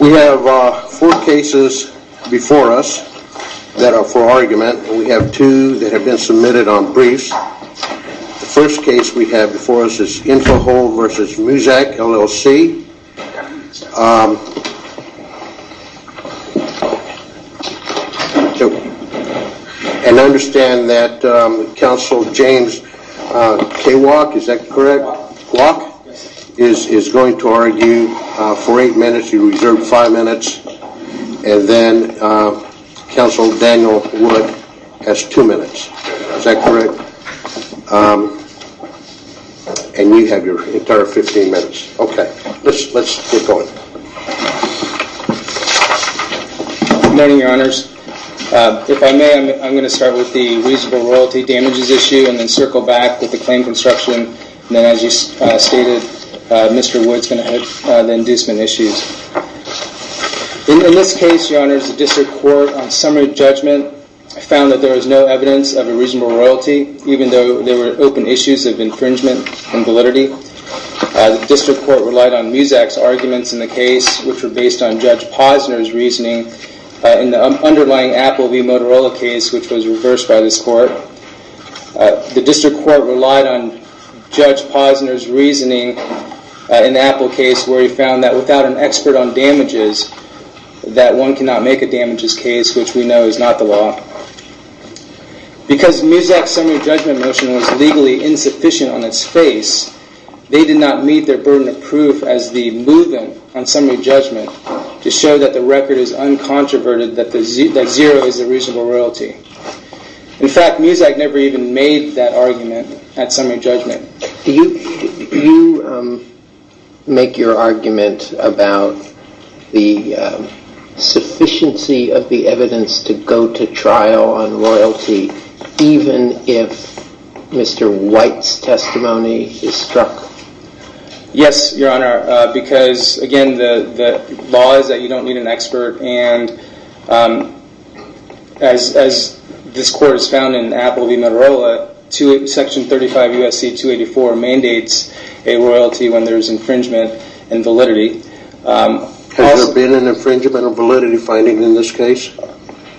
We have four cases before us that are for argument. We have two that have been submitted on briefs. The first case we have before us is Info-Hold v. Muzak LLC. And I understand that Counsel James K. Wach is going to argue for eight minutes. You reserve five minutes. And then Counsel Daniel Wood has two minutes. Is that correct? And you have your entire 15 minutes. Okay. Let's get going. Good morning, Your Honors. If I may, I'm going to start with the reasonable royalty damages issue and then circle back with the claim construction. And then as you stated, Mr. Wood's going to have the inducement issues. In this case, Your Honors, the District Court on summary judgment found that there was no evidence of a reasonable royalty, even though there were open issues of infringement and validity. The District Court relied on Muzak's and Judge Posner's reasoning in the underlying Apple v. Motorola case, which was reversed by this Court. The District Court relied on Judge Posner's reasoning in the Apple case where he found that without an expert on damages, that one cannot make a damages case, which we know is not the law. Because Muzak's summary judgment motion was legally insufficient on on summary judgment to show that the record is uncontroverted, that zero is a reasonable royalty. In fact, Muzak never even made that argument at summary judgment. Do you make your argument about the sufficiency of the evidence to go to trial on royalty even if Mr. White's testimony is struck? Yes, Your Honor. Because, again, the law is that you don't need an expert. And as this Court has found in Apple v. Motorola, Section 35 U.S.C. 284 mandates a royalty when there is infringement and validity. Has there been an infringement or validity finding in this case?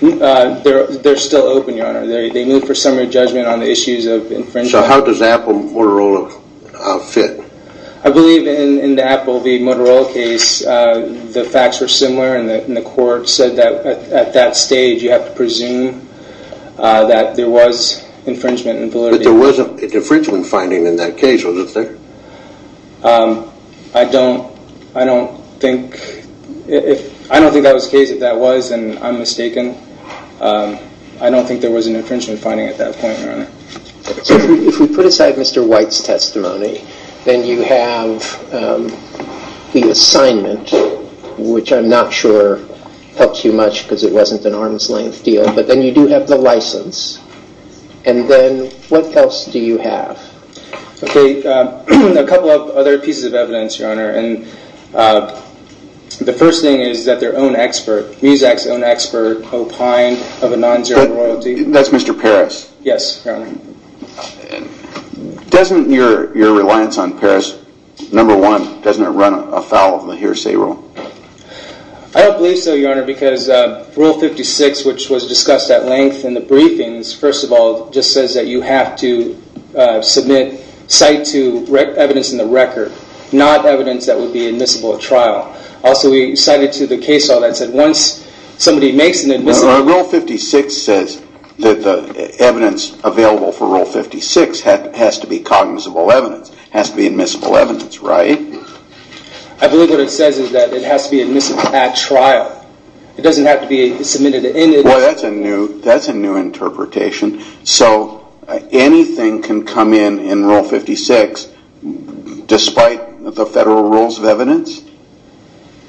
They're still open, Your Honor. They move for summary judgment on the issues of infringement. So how does Apple v. Motorola fit? I believe in the Apple v. Motorola case the facts were similar and the Court said that at that stage you have to presume that there was infringement and validity. But there was an infringement finding in that case, was it there? I don't think that was the case. If that was, then I'm mistaken. I don't think there was an infringement finding at that point, Your Honor. So if we put aside Mr. White's testimony, then you have the assignment, which I'm not sure helps you much because it wasn't an arm's length deal, but then you do have the license. And then what else do you have? Okay, a couple of other pieces of evidence, Your Honor. And the first thing is that their own expert, Muzak's own expert, O'Pine of a non-zero royalty. That's Mr. Parris. Yes, Your Honor. Doesn't your reliance on Parris, number one, doesn't it run afoul of the hearsay rule? I don't believe so, Your Honor, because Rule 56, which was discussed at length in the briefings, first of all, just says that you have to submit, cite to evidence in the record, not evidence that would be admissible at trial. Also, we cited to the case all that said once somebody makes an admissible... Well, Rule 56 says that the evidence available for Rule 56 has to be cognizable evidence, has to be admissible evidence, right? I believe what it says is that it has to be admissible at trial. It doesn't have to be submitted... Well, that's a new interpretation. So anything can come in in Rule 56 despite the federal rules of evidence?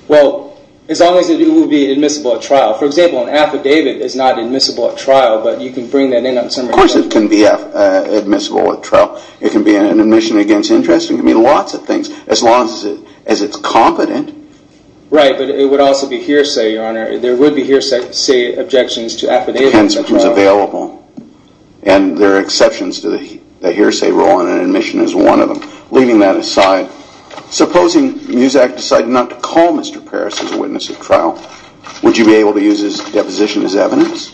Well, as long as it will be admissible at trial. For example, an affidavit is not admissible at trial, but you can bring that in on some... Of course it can be admissible at trial. It can be an admission against interest. It can mean lots of things, as long as it's competent. Right, but it would also be hearsay, Your Honor. There would be hearsay objections to affidavits at trial. Depends who's available. And there are exceptions to the hearsay rule, and an admission is one of them. Leaving that aside, supposing Muzak decided not to call Mr. Paris as a witness at trial, would you be able to use his deposition as evidence?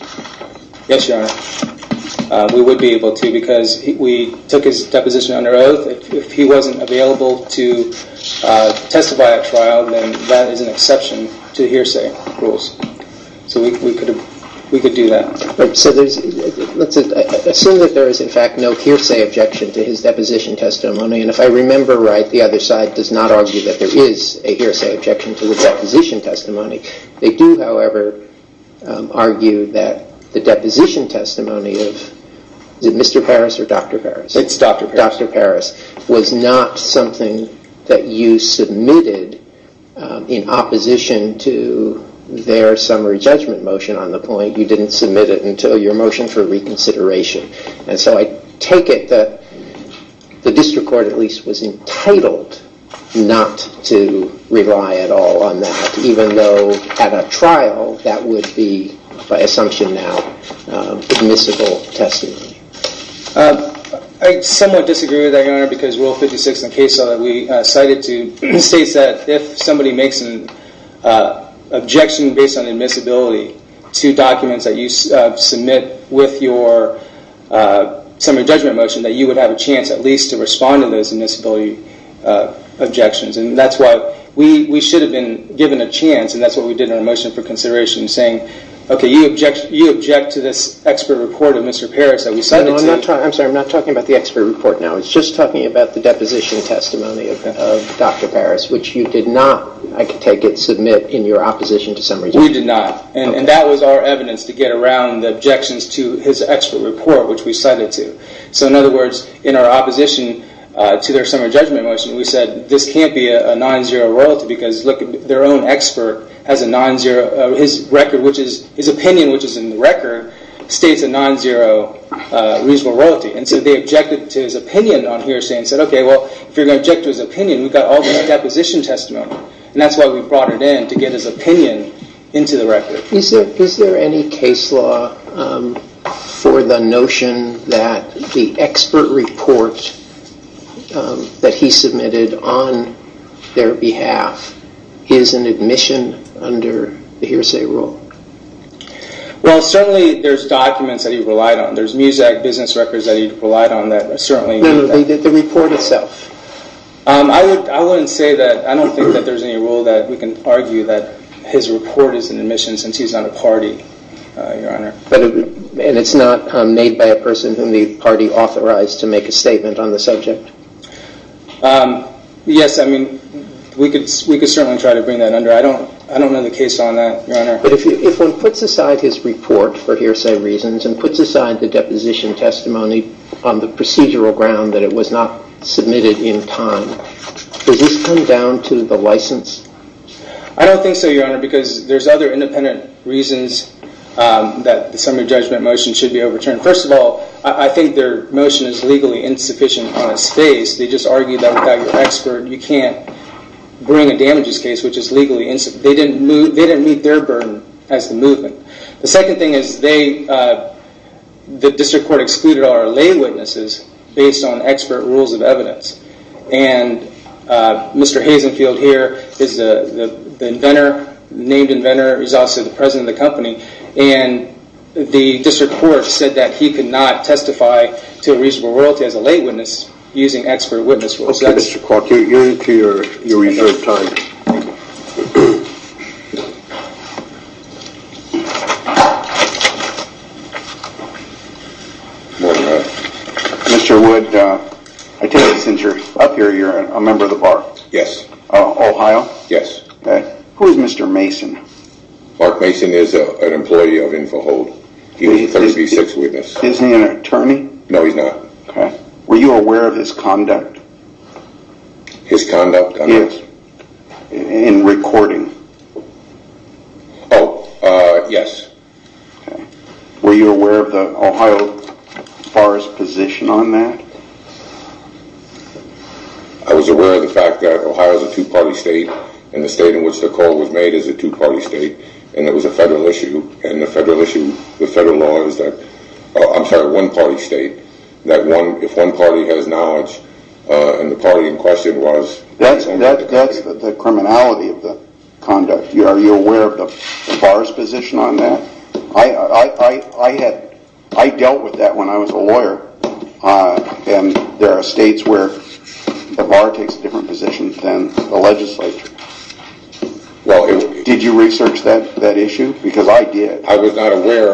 Yes, Your Honor. We would be able to because we took his deposition under oath. If he wasn't available to testify at trial, then that is an exception to hearsay rules. So we could do that. So let's assume that there is, in fact, no hearsay objection to his deposition testimony. And if I remember right, the other side does not argue that there is a hearsay objection to the deposition testimony. They do, however, argue that the deposition testimony of Mr. Paris or Dr. Paris? It's Dr. Paris. Dr. Paris was not something that you submitted in opposition to their summary judgment motion on the point. You didn't submit it until your motion for reconsideration. And so I take it that the district court, at least, was entitled not to rely at all on that, even though at a trial that would be, by assumption now, admissible testimony. I somewhat disagree with that, Your Honor, because Rule 56 in the case law that we cited to states that if somebody makes an objection based on admissibility to documents that you submit with your summary judgment motion, that you would have a chance, at least, to respond to those admissibility objections. And that's why we should have been given a chance, and that's what we did in our motion for consideration, saying, okay, you object to this expert report of Mr. Paris that we cited to you. I'm sorry. I'm not talking about the expert report now. It's just talking about the deposition testimony of Dr. Paris, which you did not, I could take it, submit in your opposition to summary judgment. We did not. And that was our evidence to get around the objections to his expert report, which we cited to. So in other words, in our opposition to their summary judgment motion, we said, this can't be a non-zero royalty because look, their own expert has a non-zero, his record, which is, his opinion, which is in the record, states a non-zero reasonable royalty. And so they objected to his opinion on hearsay and said, okay, well, if you're going to object to his opinion, we've got all this deposition testimony. And that's why we brought it in, to get his opinion into the record. Is there any case law for the notion that the expert report that he submitted on their behalf is an admission under the hearsay rule? Well, certainly, there's documents that he relied on. There's MUSAC business records that he relied on that certainly. No, no, the report itself. I wouldn't say that. I don't think that there's any rule that we can argue that his report is an admission since he's not a party, Your Honor. And it's not made by a person whom the party authorized to make a statement on the subject? Yes, I mean, we could certainly try to bring that under. I don't know the case on that, Your Honor. But if one puts aside his report for hearsay reasons and puts aside the deposition testimony on the procedural ground that it was not submitted in time, does this come down to the license? I don't think so, Your Honor, because there's other independent reasons that the summary judgment motion should be overturned. First of all, I think their motion is legally insufficient on its face. They just argued that without your expert, you can't bring a damages case, which is legally insufficient. They didn't meet their burden as the movement. The second thing is they, the District Court excluded all our lay witnesses based on expert rules of evidence. And Mr. Hazenfield here is the inventor, named inventor. He's also the president of the company. And the District Court said that he could not testify to a reasonable royalty as a lay witness using expert witness rules. Okay, Mr. Clark, you're into your reserve time. Mr. Wood, I take it since you're up here, you're a member of the bar? Yes. Ohio? Yes. Who is Mr. Mason? Mark Mason is an employee of Info Hold. He's a 36 witness. Isn't he an attorney? No, he's not. Were you aware of his conduct? His conduct, I guess. In recording? Oh, yes. Were you aware of the Ohio Bar's position on that? I was aware of the fact that Ohio is a two-party state, and the state in which the court was made is a two-party state, and it was a federal issue. And the federal issue, the federal law is that, I'm sorry, one-party state. That one, if one party has knowledge, and the party in question was... That's the criminality of the conduct. Are you aware of the bar's position on that? I dealt with that when I was a lawyer, and there are states where the bar takes a different position than the legislature. Did you research that issue? Because I did. I was not aware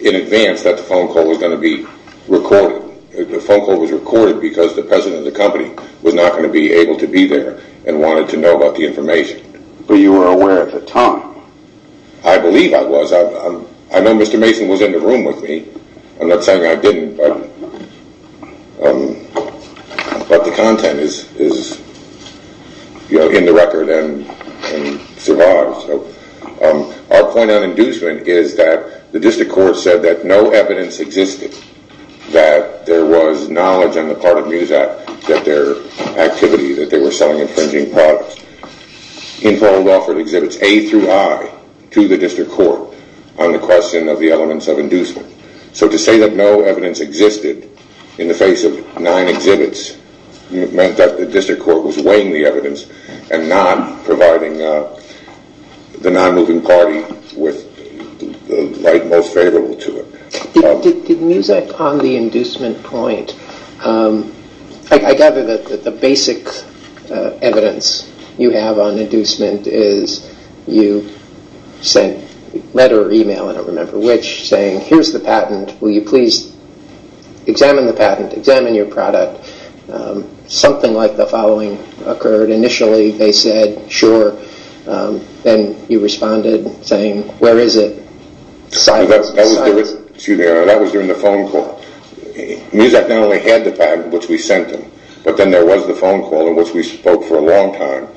in advance that the phone call was going to be recorded. The phone call was recorded because the president of the company was not going to be able to be there and wanted to know about the information. But you were aware at the time? I believe I was. I know Mr. Mason was in the room with me. I'm not saying I didn't, but the content is in the record and survives. Our point on inducement is that the district court said that no evidence existed that there was knowledge on the part of Mesa that their activity, that they were selling infringing products, in Paul Welford exhibits, A through I, to the district court on the question of the elements of inducement. So to say that no evidence existed in the face of nine exhibits meant that the district court was weighing the evidence and not providing the non-moving party with the right most favorable to it. Did Muzak on the inducement point, I gather that the basic evidence you have on inducement is you sent a letter or email, I don't remember which, saying here's the patent, will you please examine the patent, examine your product. Something like the following occurred. Initially they said sure. Then you responded saying where is it? Silence. That was during the phone call. Muzak not only had the patent which we sent him, but then there was the phone call in which we spoke for a long time.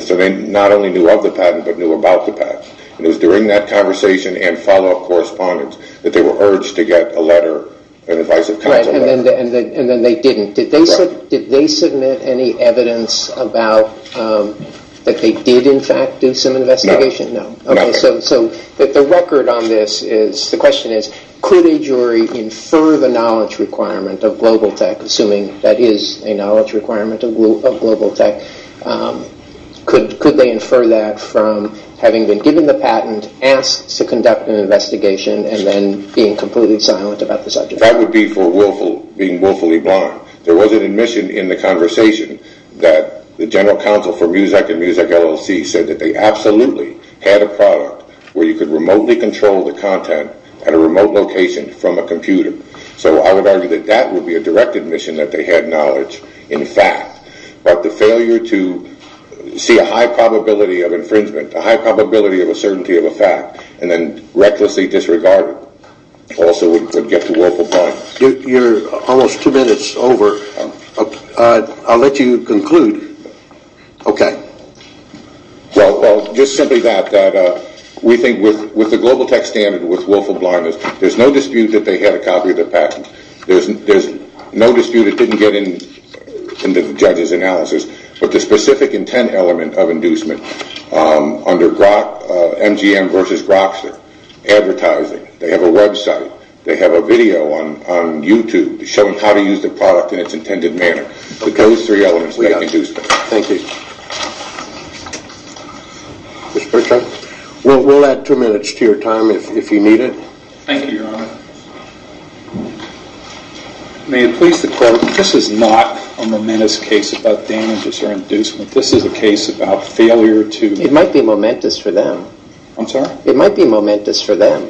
So they not only knew about the patent, but knew about the patent. It was during that conversation and follow-up correspondence that they were urged to get a letter, an advice of counsel letter. And then they didn't. Did they submit any evidence that they did in fact do some investigation? No. Okay, so the record on this is, the question is could a jury infer the knowledge requirement of Global Tech, assuming that is a knowledge requirement, infer that from having been given the patent, asked to conduct an investigation and then being completely silent about the subject? That would be for being willfully blind. There was an admission in the conversation that the general counsel for Muzak and Muzak LLC said that they absolutely had a product where you could remotely control the content at a remote location from a computer. So I would argue that that would be a direct admission that they had knowledge in fact. But the failure to see a high probability of infringement, a high probability of a certainty of a fact and then recklessly disregard it also would get to willful blindness. You're almost two minutes over. I'll let you conclude. Well, just simply that, we think with the Global Tech standard with willful blindness, there's no dispute that they had a copy of the patent. There's no dispute it didn't get in the judge's analysis. But the specific intent element of inducement under MGM versus Grokster, advertising, they have a website, they have a video on YouTube showing how to use the product in its intended manner. Those three elements make inducement. Thank you. Mr. Pritchard, we'll add two minutes to your time if you need it. Thank you, Your Honor. May it please the court, this is not a momentous case about damages or inducement. This is a case about failure to... It might be momentous for them. I'm sorry? It might be momentous for them.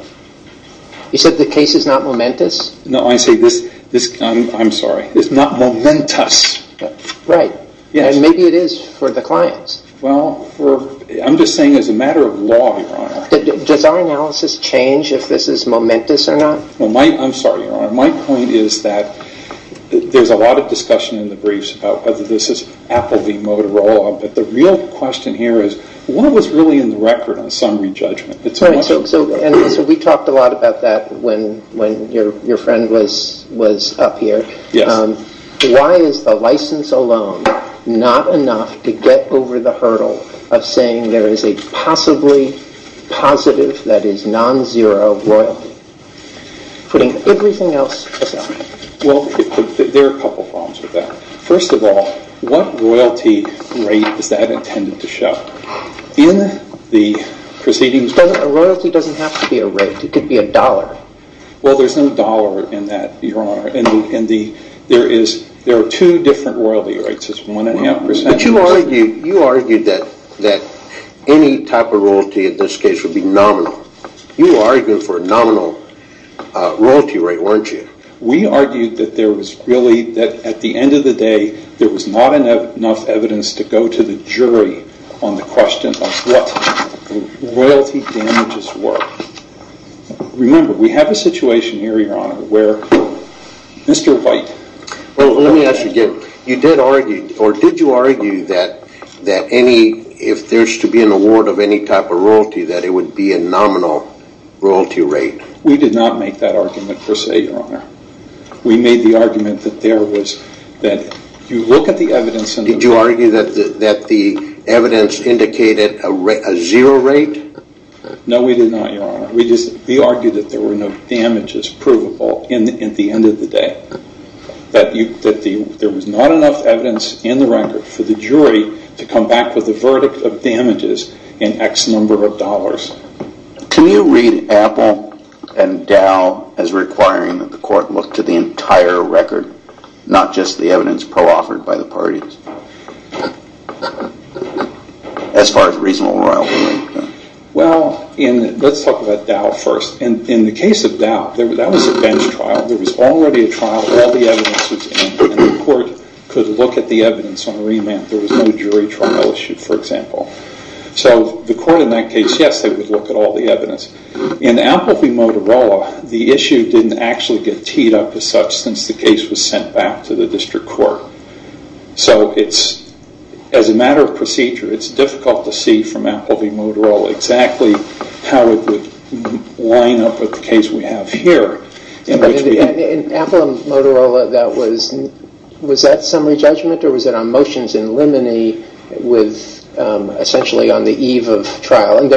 You said the case is not momentous? No, I say this, I'm sorry, is not momentous. Right. And maybe it is for the clients. Well, I'm just saying as a matter of law, Your Honor. Does our analysis change if this is momentous or not? I'm sorry, Your Honor. My point is that there's a lot of discussion in the briefs about whether this is Apple v. Motorola, but the real question here is what was really in the record on summary judgment? So we talked a lot about that when your friend was up here. Why is the license alone not enough to get over the hurdle of saying there is a possibly positive, that is non-zero, royalty, putting everything else aside? Well, there are a couple problems with that. First of all, what royalty rate is that intended to show? In the proceedings... A royalty doesn't have to be a rate. It could be a dollar. Well, there's no dollar in that, Your Honor. There are two different royalty rates. It's one and a half percent. But you argued that any type of royalty, in this case, would be nominal. You argued for a nominal royalty rate, weren't you? We argued that there was really, at the end of the day, there was not enough evidence to go to the jury on the question of what royalty damages were. Remember, we have a situation here, Your Honor, where Mr. White... Well, let me ask you again. You did argue, or did you argue that any, if there's to be an award of any type of royalty, that it would be a nominal royalty rate? We did not make that argument per se, Your Honor. We made the argument that there was, that you look at the evidence... Did you argue that the evidence indicated a zero rate? No, we did not, Your Honor. We just, we argued that there were no damages provable at the end of the day, that there was not enough evidence in the record for the jury to come back with a verdict of damages in X number of dollars. Can you read Apple and Dow as requiring that the court look to the entire record, not just the evidence pro-offered by the parties, as far as reasonable royalty? Well, let's talk about Dow first. In the case of Dow, that was a bench trial. There was already a trial. All the evidence was in it. The court could look at the evidence on a remand. There was no jury trial issue, for example. So the court in that case, yes, they would look at all the evidence. In Apple v. Motorola, the issue didn't actually get teed up as such since the case was sent back to us. So we had to see from Apple v. Motorola exactly how it would line up with the case we have here. In Apple v. Motorola, was that summary judgment or was it on motions in limine with essentially on the eve of trial? Am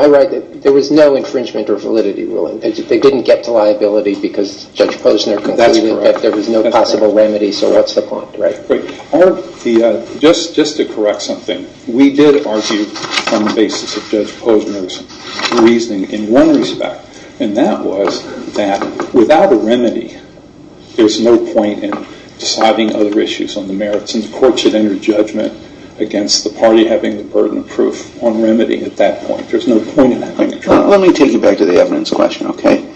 I right that there was no infringement or validity ruling? They didn't get to liability because Judge Posner concluded that there was no possible remedy, so what's the point, right? Right. Just to correct something, we did argue on the basis of Judge Posner's reasoning in one respect, and that was that without a remedy, there's no point in deciding other issues on the merits, and the court should enter judgment against the party having the burden of proof on remedy at that point. There's no point in having a trial. Let me take you back to the evidence question, okay?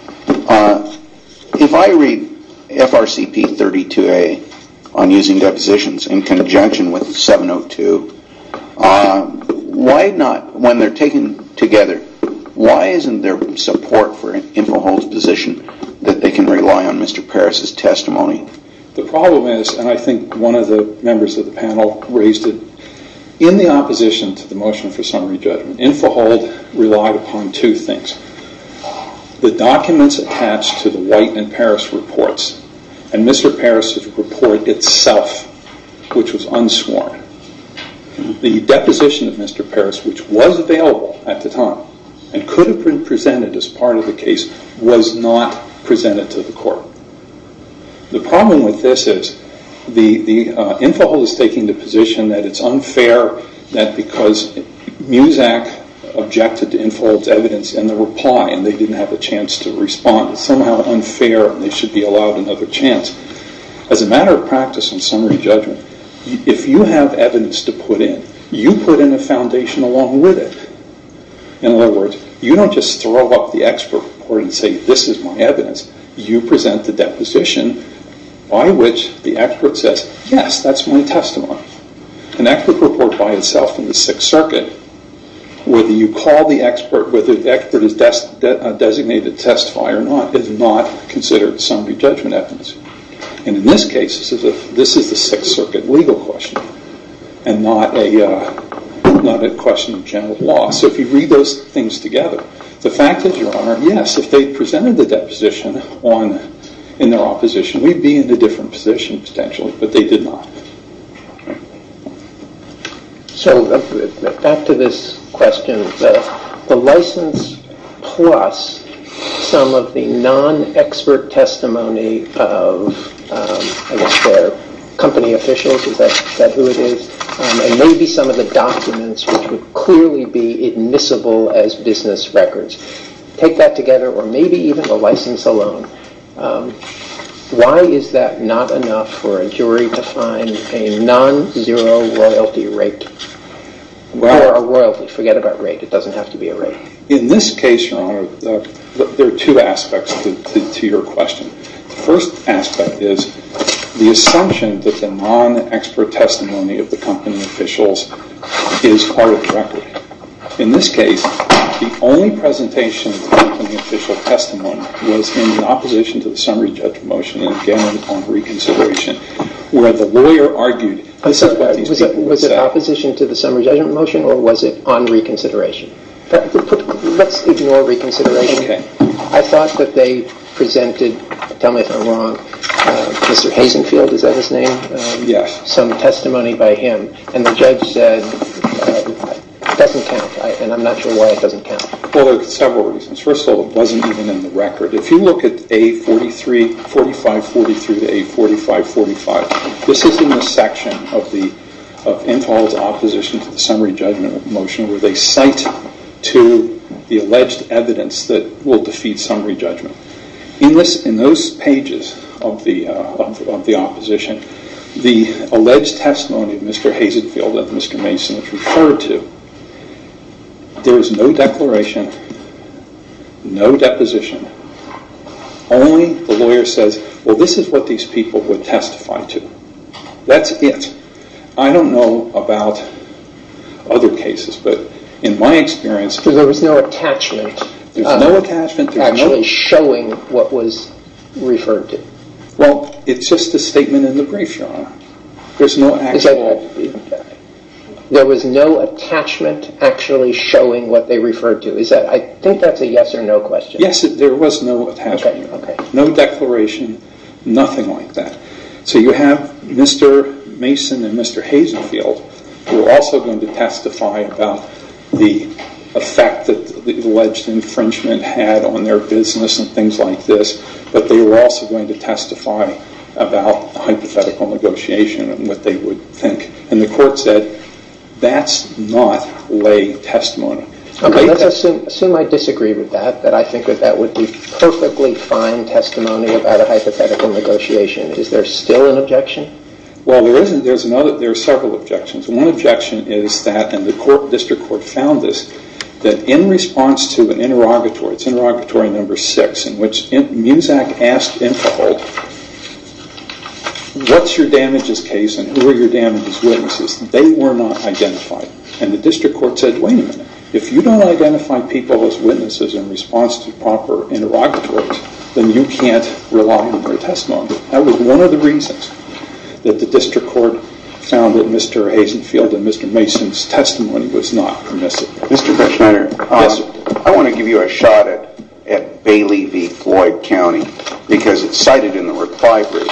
If I read FRCP 32A on using depositions in conjunction with 702, why not, when they're taken together, why isn't there support for Infohold's position that they can rely on Mr. Paris' testimony? The problem is, and I think one of the members of the panel raised it, in the opposition to the motion for summary judgment, Infohold relied upon two things. The documents attached to the White and Paris reports, and Mr. Paris' report itself, which was unsworn, the deposition of Mr. Paris, which was available at the time and could have been presented as part of the case, was not presented to the court. The problem with this is Infohold is taking the case, because Muzak objected to Infohold's evidence in the reply, and they didn't have a chance to respond. It's somehow unfair, and they should be allowed another chance. As a matter of practice on summary judgment, if you have evidence to put in, you put in a foundation along with it. In other words, you don't just throw up the expert report and say, this is my evidence. You present the deposition by which the expert says, yes, that's my testimony. An expert report by itself in the Sixth Circuit, whether you call the expert, whether the expert is a designated testifier or not, is not considered summary judgment evidence. In this case, this is the Sixth Circuit legal question and not a question of general law. If you read those things together, the fact is, Your Honor, yes, if they presented the deposition in their opposition, we'd be in a different position potentially, but they did not. So back to this question, the license plus some of the non-expert testimony of, I guess, their company officials, is that who it is? And maybe some of the documents which would clearly be admissible as business records. Take that together, or maybe even the license alone. Why is that not enough for a jury to find a non-zero royalty rate? Or a royalty, forget about rate. It doesn't have to be a rate. In this case, Your Honor, there are two aspects to your question. The first aspect is the assumption that the non-expert testimony of the company officials is part of the record. In this case, the only presentation of the company official testimony was in opposition to the summary judgment motion and again on reconsideration, where the lawyer argued this is what these people said. Was it opposition to the summary judgment motion, or was it on reconsideration? Let's ignore reconsideration. I thought that they presented, tell me if I'm wrong, Mr. Hazenfield, is that his name? Yes. Some testimony by him, and the judge said it doesn't count, and I'm not sure why it doesn't count. Well, there are several reasons. First of all, it wasn't even in the record. If you look at A4543 to A4545, this is in the section of Enfald's opposition to the summary judgment motion where they cite to the alleged evidence that will defeat summary judgment. In those pages of the opposition, the alleged testimony of Mr. Hazenfield and Mr. Mason is referred to. There is no declaration, no deposition. Only the lawyer says, well, this is what these people would testify to. That's it. I don't know about other cases, but in my experience- There was no attachment actually showing what they referred to. I think that's a yes or no question. Yes, there was no attachment. No declaration, nothing like that. You have Mr. Mason and Mr. Hazenfield who are also going to testify about the effect that the alleged infringement had on their business and things like this, but they were also going to testify about hypothetical negotiation and what they would think. The court said that's not lay testimony. Okay, let's assume I disagree with that, that I think that that would be perfectly fine testimony about a hypothetical negotiation. Is there still an objection? Well, there are several objections. One objection is that, and the district court found this, that in response to an interrogatory, it's interrogatory number six, in which Muzak asked Imphal, what's your damages case and who are your damages witnesses? They were not identified, and the district court said, wait a minute. If you don't identify people as witnesses in response to proper interrogatories, then you can't rely on their testimony. That was one of the reasons that the district court found that Mr. Hazenfield and Mr. Mason's testimony was not permissive. Mr. Ferschneider, I want to give you a shot at Bailey v. Floyd County because it's cited in the reply brief,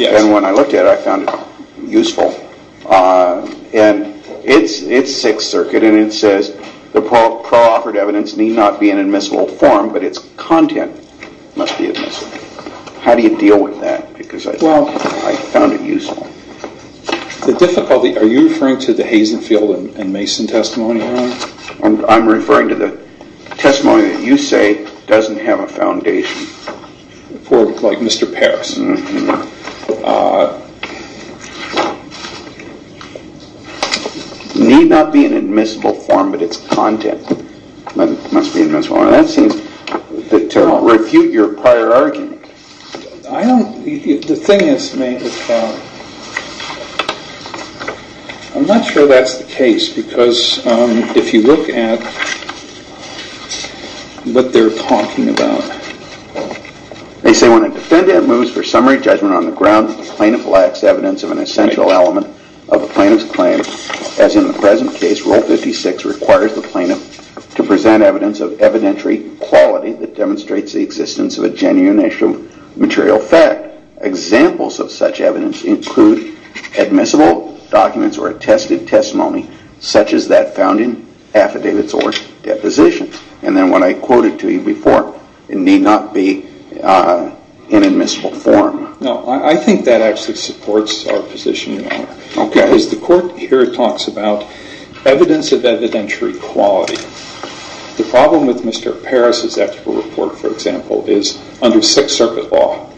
and when I looked at it, I found it useful. It's Sixth Circuit and it says the pro-offered evidence need not be an admissible form, but its content must be admissible. How do you deal with that? Because I found it useful. The difficulty, are you referring to the Hazenfield and Mason testimony? I'm referring to the testimony that you say doesn't have a foundation. For like Mr. Parris. Need not be an admissible form, but its content must be admissible. That seems to refute your prior argument. The thing is, I'm not sure that's the case because if you look at what they're talking about. They say when a defendant moves for summary judgment on the ground, the plaintiff lacks evidence of an essential element of the plaintiff's claim, as in the present case, Rule 56 requires the plaintiff to present evidence of evidentiary quality that demonstrates the existence of a genuine issue of material fact. Examples of such evidence include admissible documents or attested testimony, such as that found in affidavits or depositions. And then what I quoted to you before, it need not be an admissible form. No, I think that actually supports our position. As the court here talks about evidence of evidentiary quality, the problem with Mr. Parris' expert report, for example, is under Sixth Circuit law,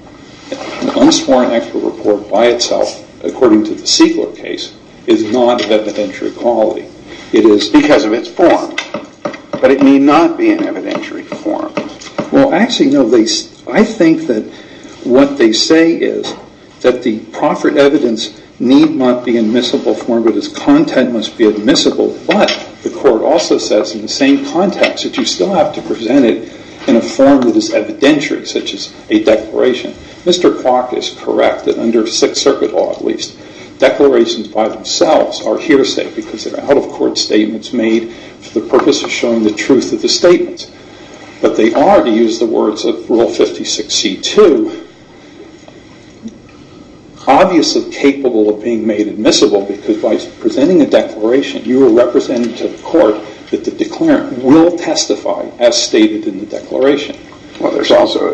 unsworn expert report by itself, according to the Segal case, is not evidentiary quality. It is because of its form, but it need not be an evidentiary form. Well, actually, no, I think that what they say is that the proffered evidence need not be admissible form, but its content must be admissible, but the court also says in the same context that you still have to present it in a form that is evidentiary, such as a declaration. Mr. Clark is correct that under Sixth Circuit law, at least, declarations by themselves are hearsay because they're out-of-court statements made for the purpose of showing the statements, but they are, to use the words of Rule 56C2, obviously capable of being made admissible because by presenting a declaration, you are representing to the court that the declarant will testify as stated in the declaration. Well,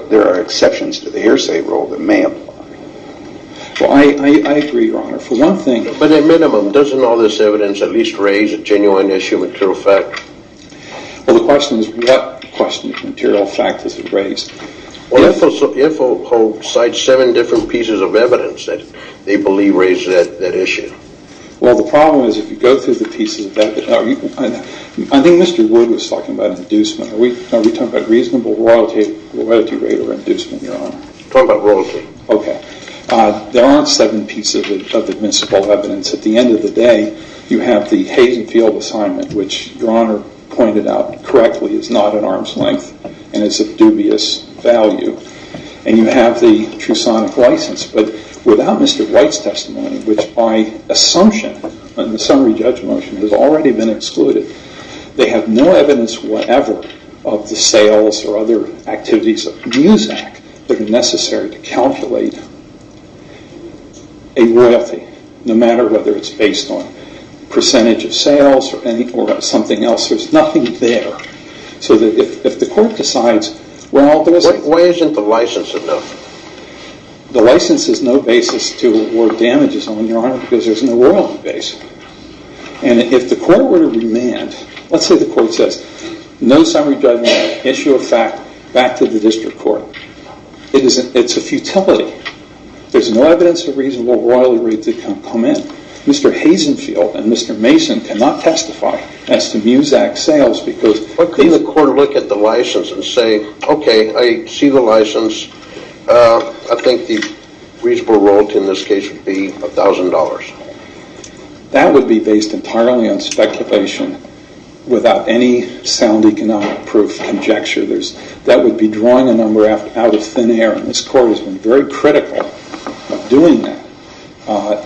there are exceptions to the hearsay rule that may apply. Well, I agree, Your Honor. For one thing... But at minimum, doesn't all this evidence at least raise a genuine issue of material fact? Well, the question is what question of material fact does it raise? Well, if a court cites seven different pieces of evidence that they believe raise that issue. Well, the problem is if you go through the pieces of evidence... I think Mr. Wood was talking about inducement. Are we talking about reasonable royalty rate or inducement, Your Honor? Talking about royalty. Okay. There aren't seven pieces of admissible evidence. At the end of the day, you have the Hazen Field Assignment, which Your Honor pointed out correctly is not at arm's length and is of dubious value, and you have the trusonic license. But without Mr. White's testimony, which by assumption in the summary judgment has already been excluded, they have no evidence whatever of the sales or other activities of MUSAC that are necessary to calculate a royalty, no matter whether it's based on percentage of sales or something else. There's nothing there. So that if the court decides... Why isn't the license enough? The license is no basis to award damages on, Your Honor, because there's no royalty base. And if the court were to remand... Let's say the court says, no summary judgment, issue of fact, back to the district court. It's a futility. There's no evidence of reasonable royalty rates that can come in. Mr. Hazen Field and Mr. Mason cannot testify as to MUSAC sales because... What could the court look at the license and say, okay, I see the license. I think the reasonable royalty in this case would be $1,000. That would be based entirely on speculation without any sound economic proof conjecture. That would be drawing a number out of thin air. And this court has been very critical of doing that.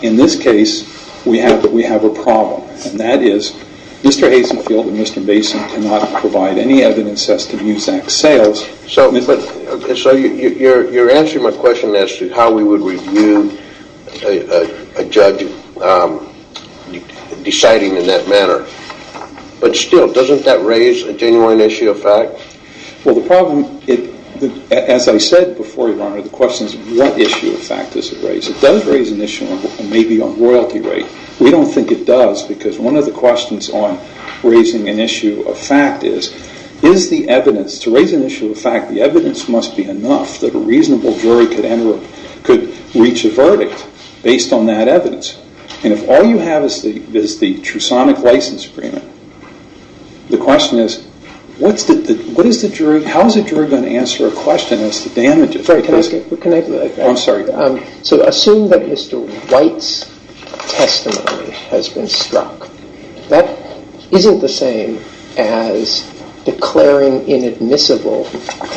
In this case, we have a problem, and that is Mr. Hazen Field and Mr. Mason cannot provide any evidence as to MUSAC sales. So you're answering my question as to how we would review a judge deciding in that manner. But still, doesn't that raise a genuine issue of fact? Well, the problem... As I said before, Your Honor, the question is what issue of fact does it raise? It does raise an issue maybe on royalty rate. We don't think it does because one of the questions on raising an issue of fact is, is the evidence... To raise an issue of fact, the evidence must be based on that evidence. And if all you have is the Trusonic License Agreement, the question is, how is a juror going to answer a question as to damages? So assume that Mr. White's testimony has been struck. That isn't the same as declaring inadmissible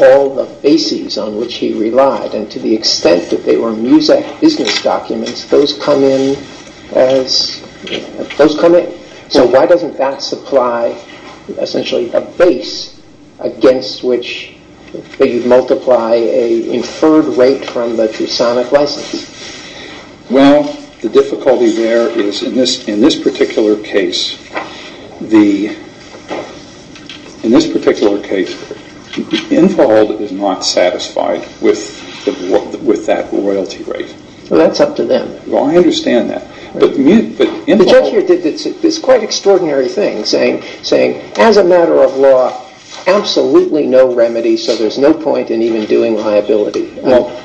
all the bases on which he relied. And to the extent that they were MUSAC business documents, those come in as... Those come in. So why doesn't that supply essentially a base against which you'd multiply a inferred rate from the Trusonic License? Well, the difficulty there is in this particular case, in this particular case, Infold is not satisfied with that royalty rate. Well, that's up to them. Well, I understand that. But Infold... The judge here did this quite extraordinary thing, saying, as a matter of law, absolutely no remedy, so there's no point in even doing liability.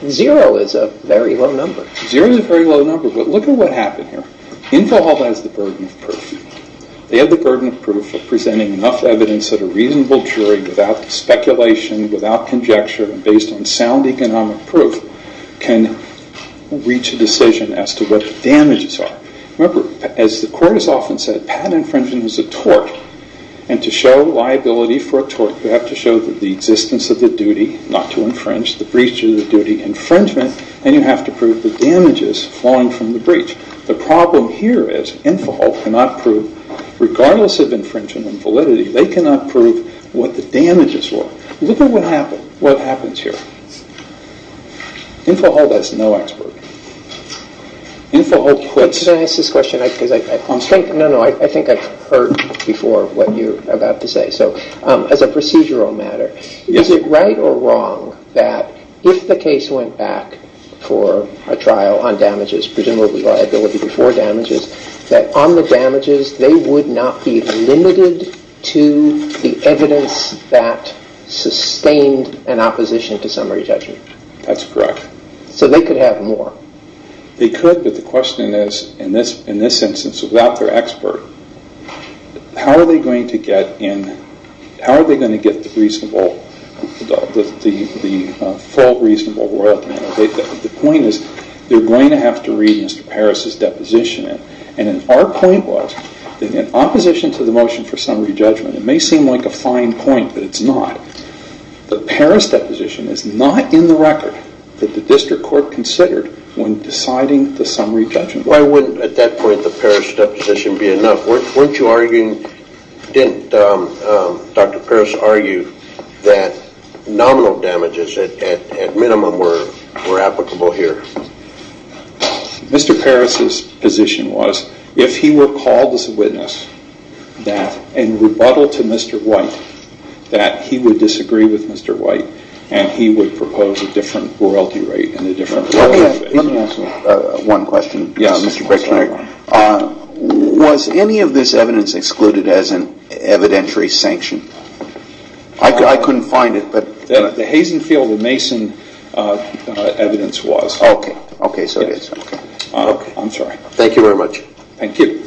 Zero is a very low number. Zero is a very low number. But look at what happened here. Infold has the burden of proof. They have the burden of proof of presenting enough evidence that a reasonable jury without speculation, without conjecture, and based on sound economic proof can reach a decision as to what the damages are. Remember, as the court has often said, patent infringement is a tort. And to show liability for a tort, you have to show the existence of the duty not to infringe, the breach of the duty infringement, and you have to prove the damages flowing from the breach. The problem here is Infold cannot prove, regardless of infringement and validity, they cannot prove what the damages were. Look at what happens here. Infold has no expert. Infold puts... Can I ask this question? I think I've heard before what you're about to say. So as a procedural matter, is it right or wrong that if the case went back for a trial on damages, presumably liability before damages, that on the damages, they would not be limited to the evidence that sustained an opposition to summary judgment? That's correct. So they could have more? They could, but the question is, in this instance, without their expert, how are they going to get in... How are they going to get the reasonable... The full reasonable world? The point is, they're going to have to read Mr. Paris's deposition. And our point was, in opposition to the motion for summary judgment, it may seem like a fine point, but it's not. The Paris deposition is not in the record that the district court considered when deciding the summary judgment. Why wouldn't, at that point, the Paris deposition be enough? Weren't you arguing... Didn't Dr. Paris argue that nominal damages, at minimum, were applicable here? Mr. Paris's position was, if he were called as a witness, and rebuttal to Mr. White, that he would disagree with Mr. White, and he would propose a different royalty rate and a different royalty rate. Let me ask one question, Mr. Critchner. Was any of this evidence excluded as an evidentiary sanction? I couldn't find it, but... The Hazenfield and Mason evidence was. Oh, okay. Okay, so it is. I'm sorry. Thank you very much. Thank you.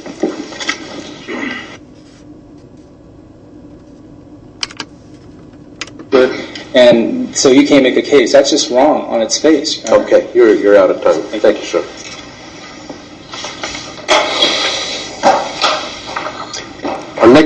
And so you can't make a case. That's just wrong on its face. Okay, you're out of time. Thank you, sir.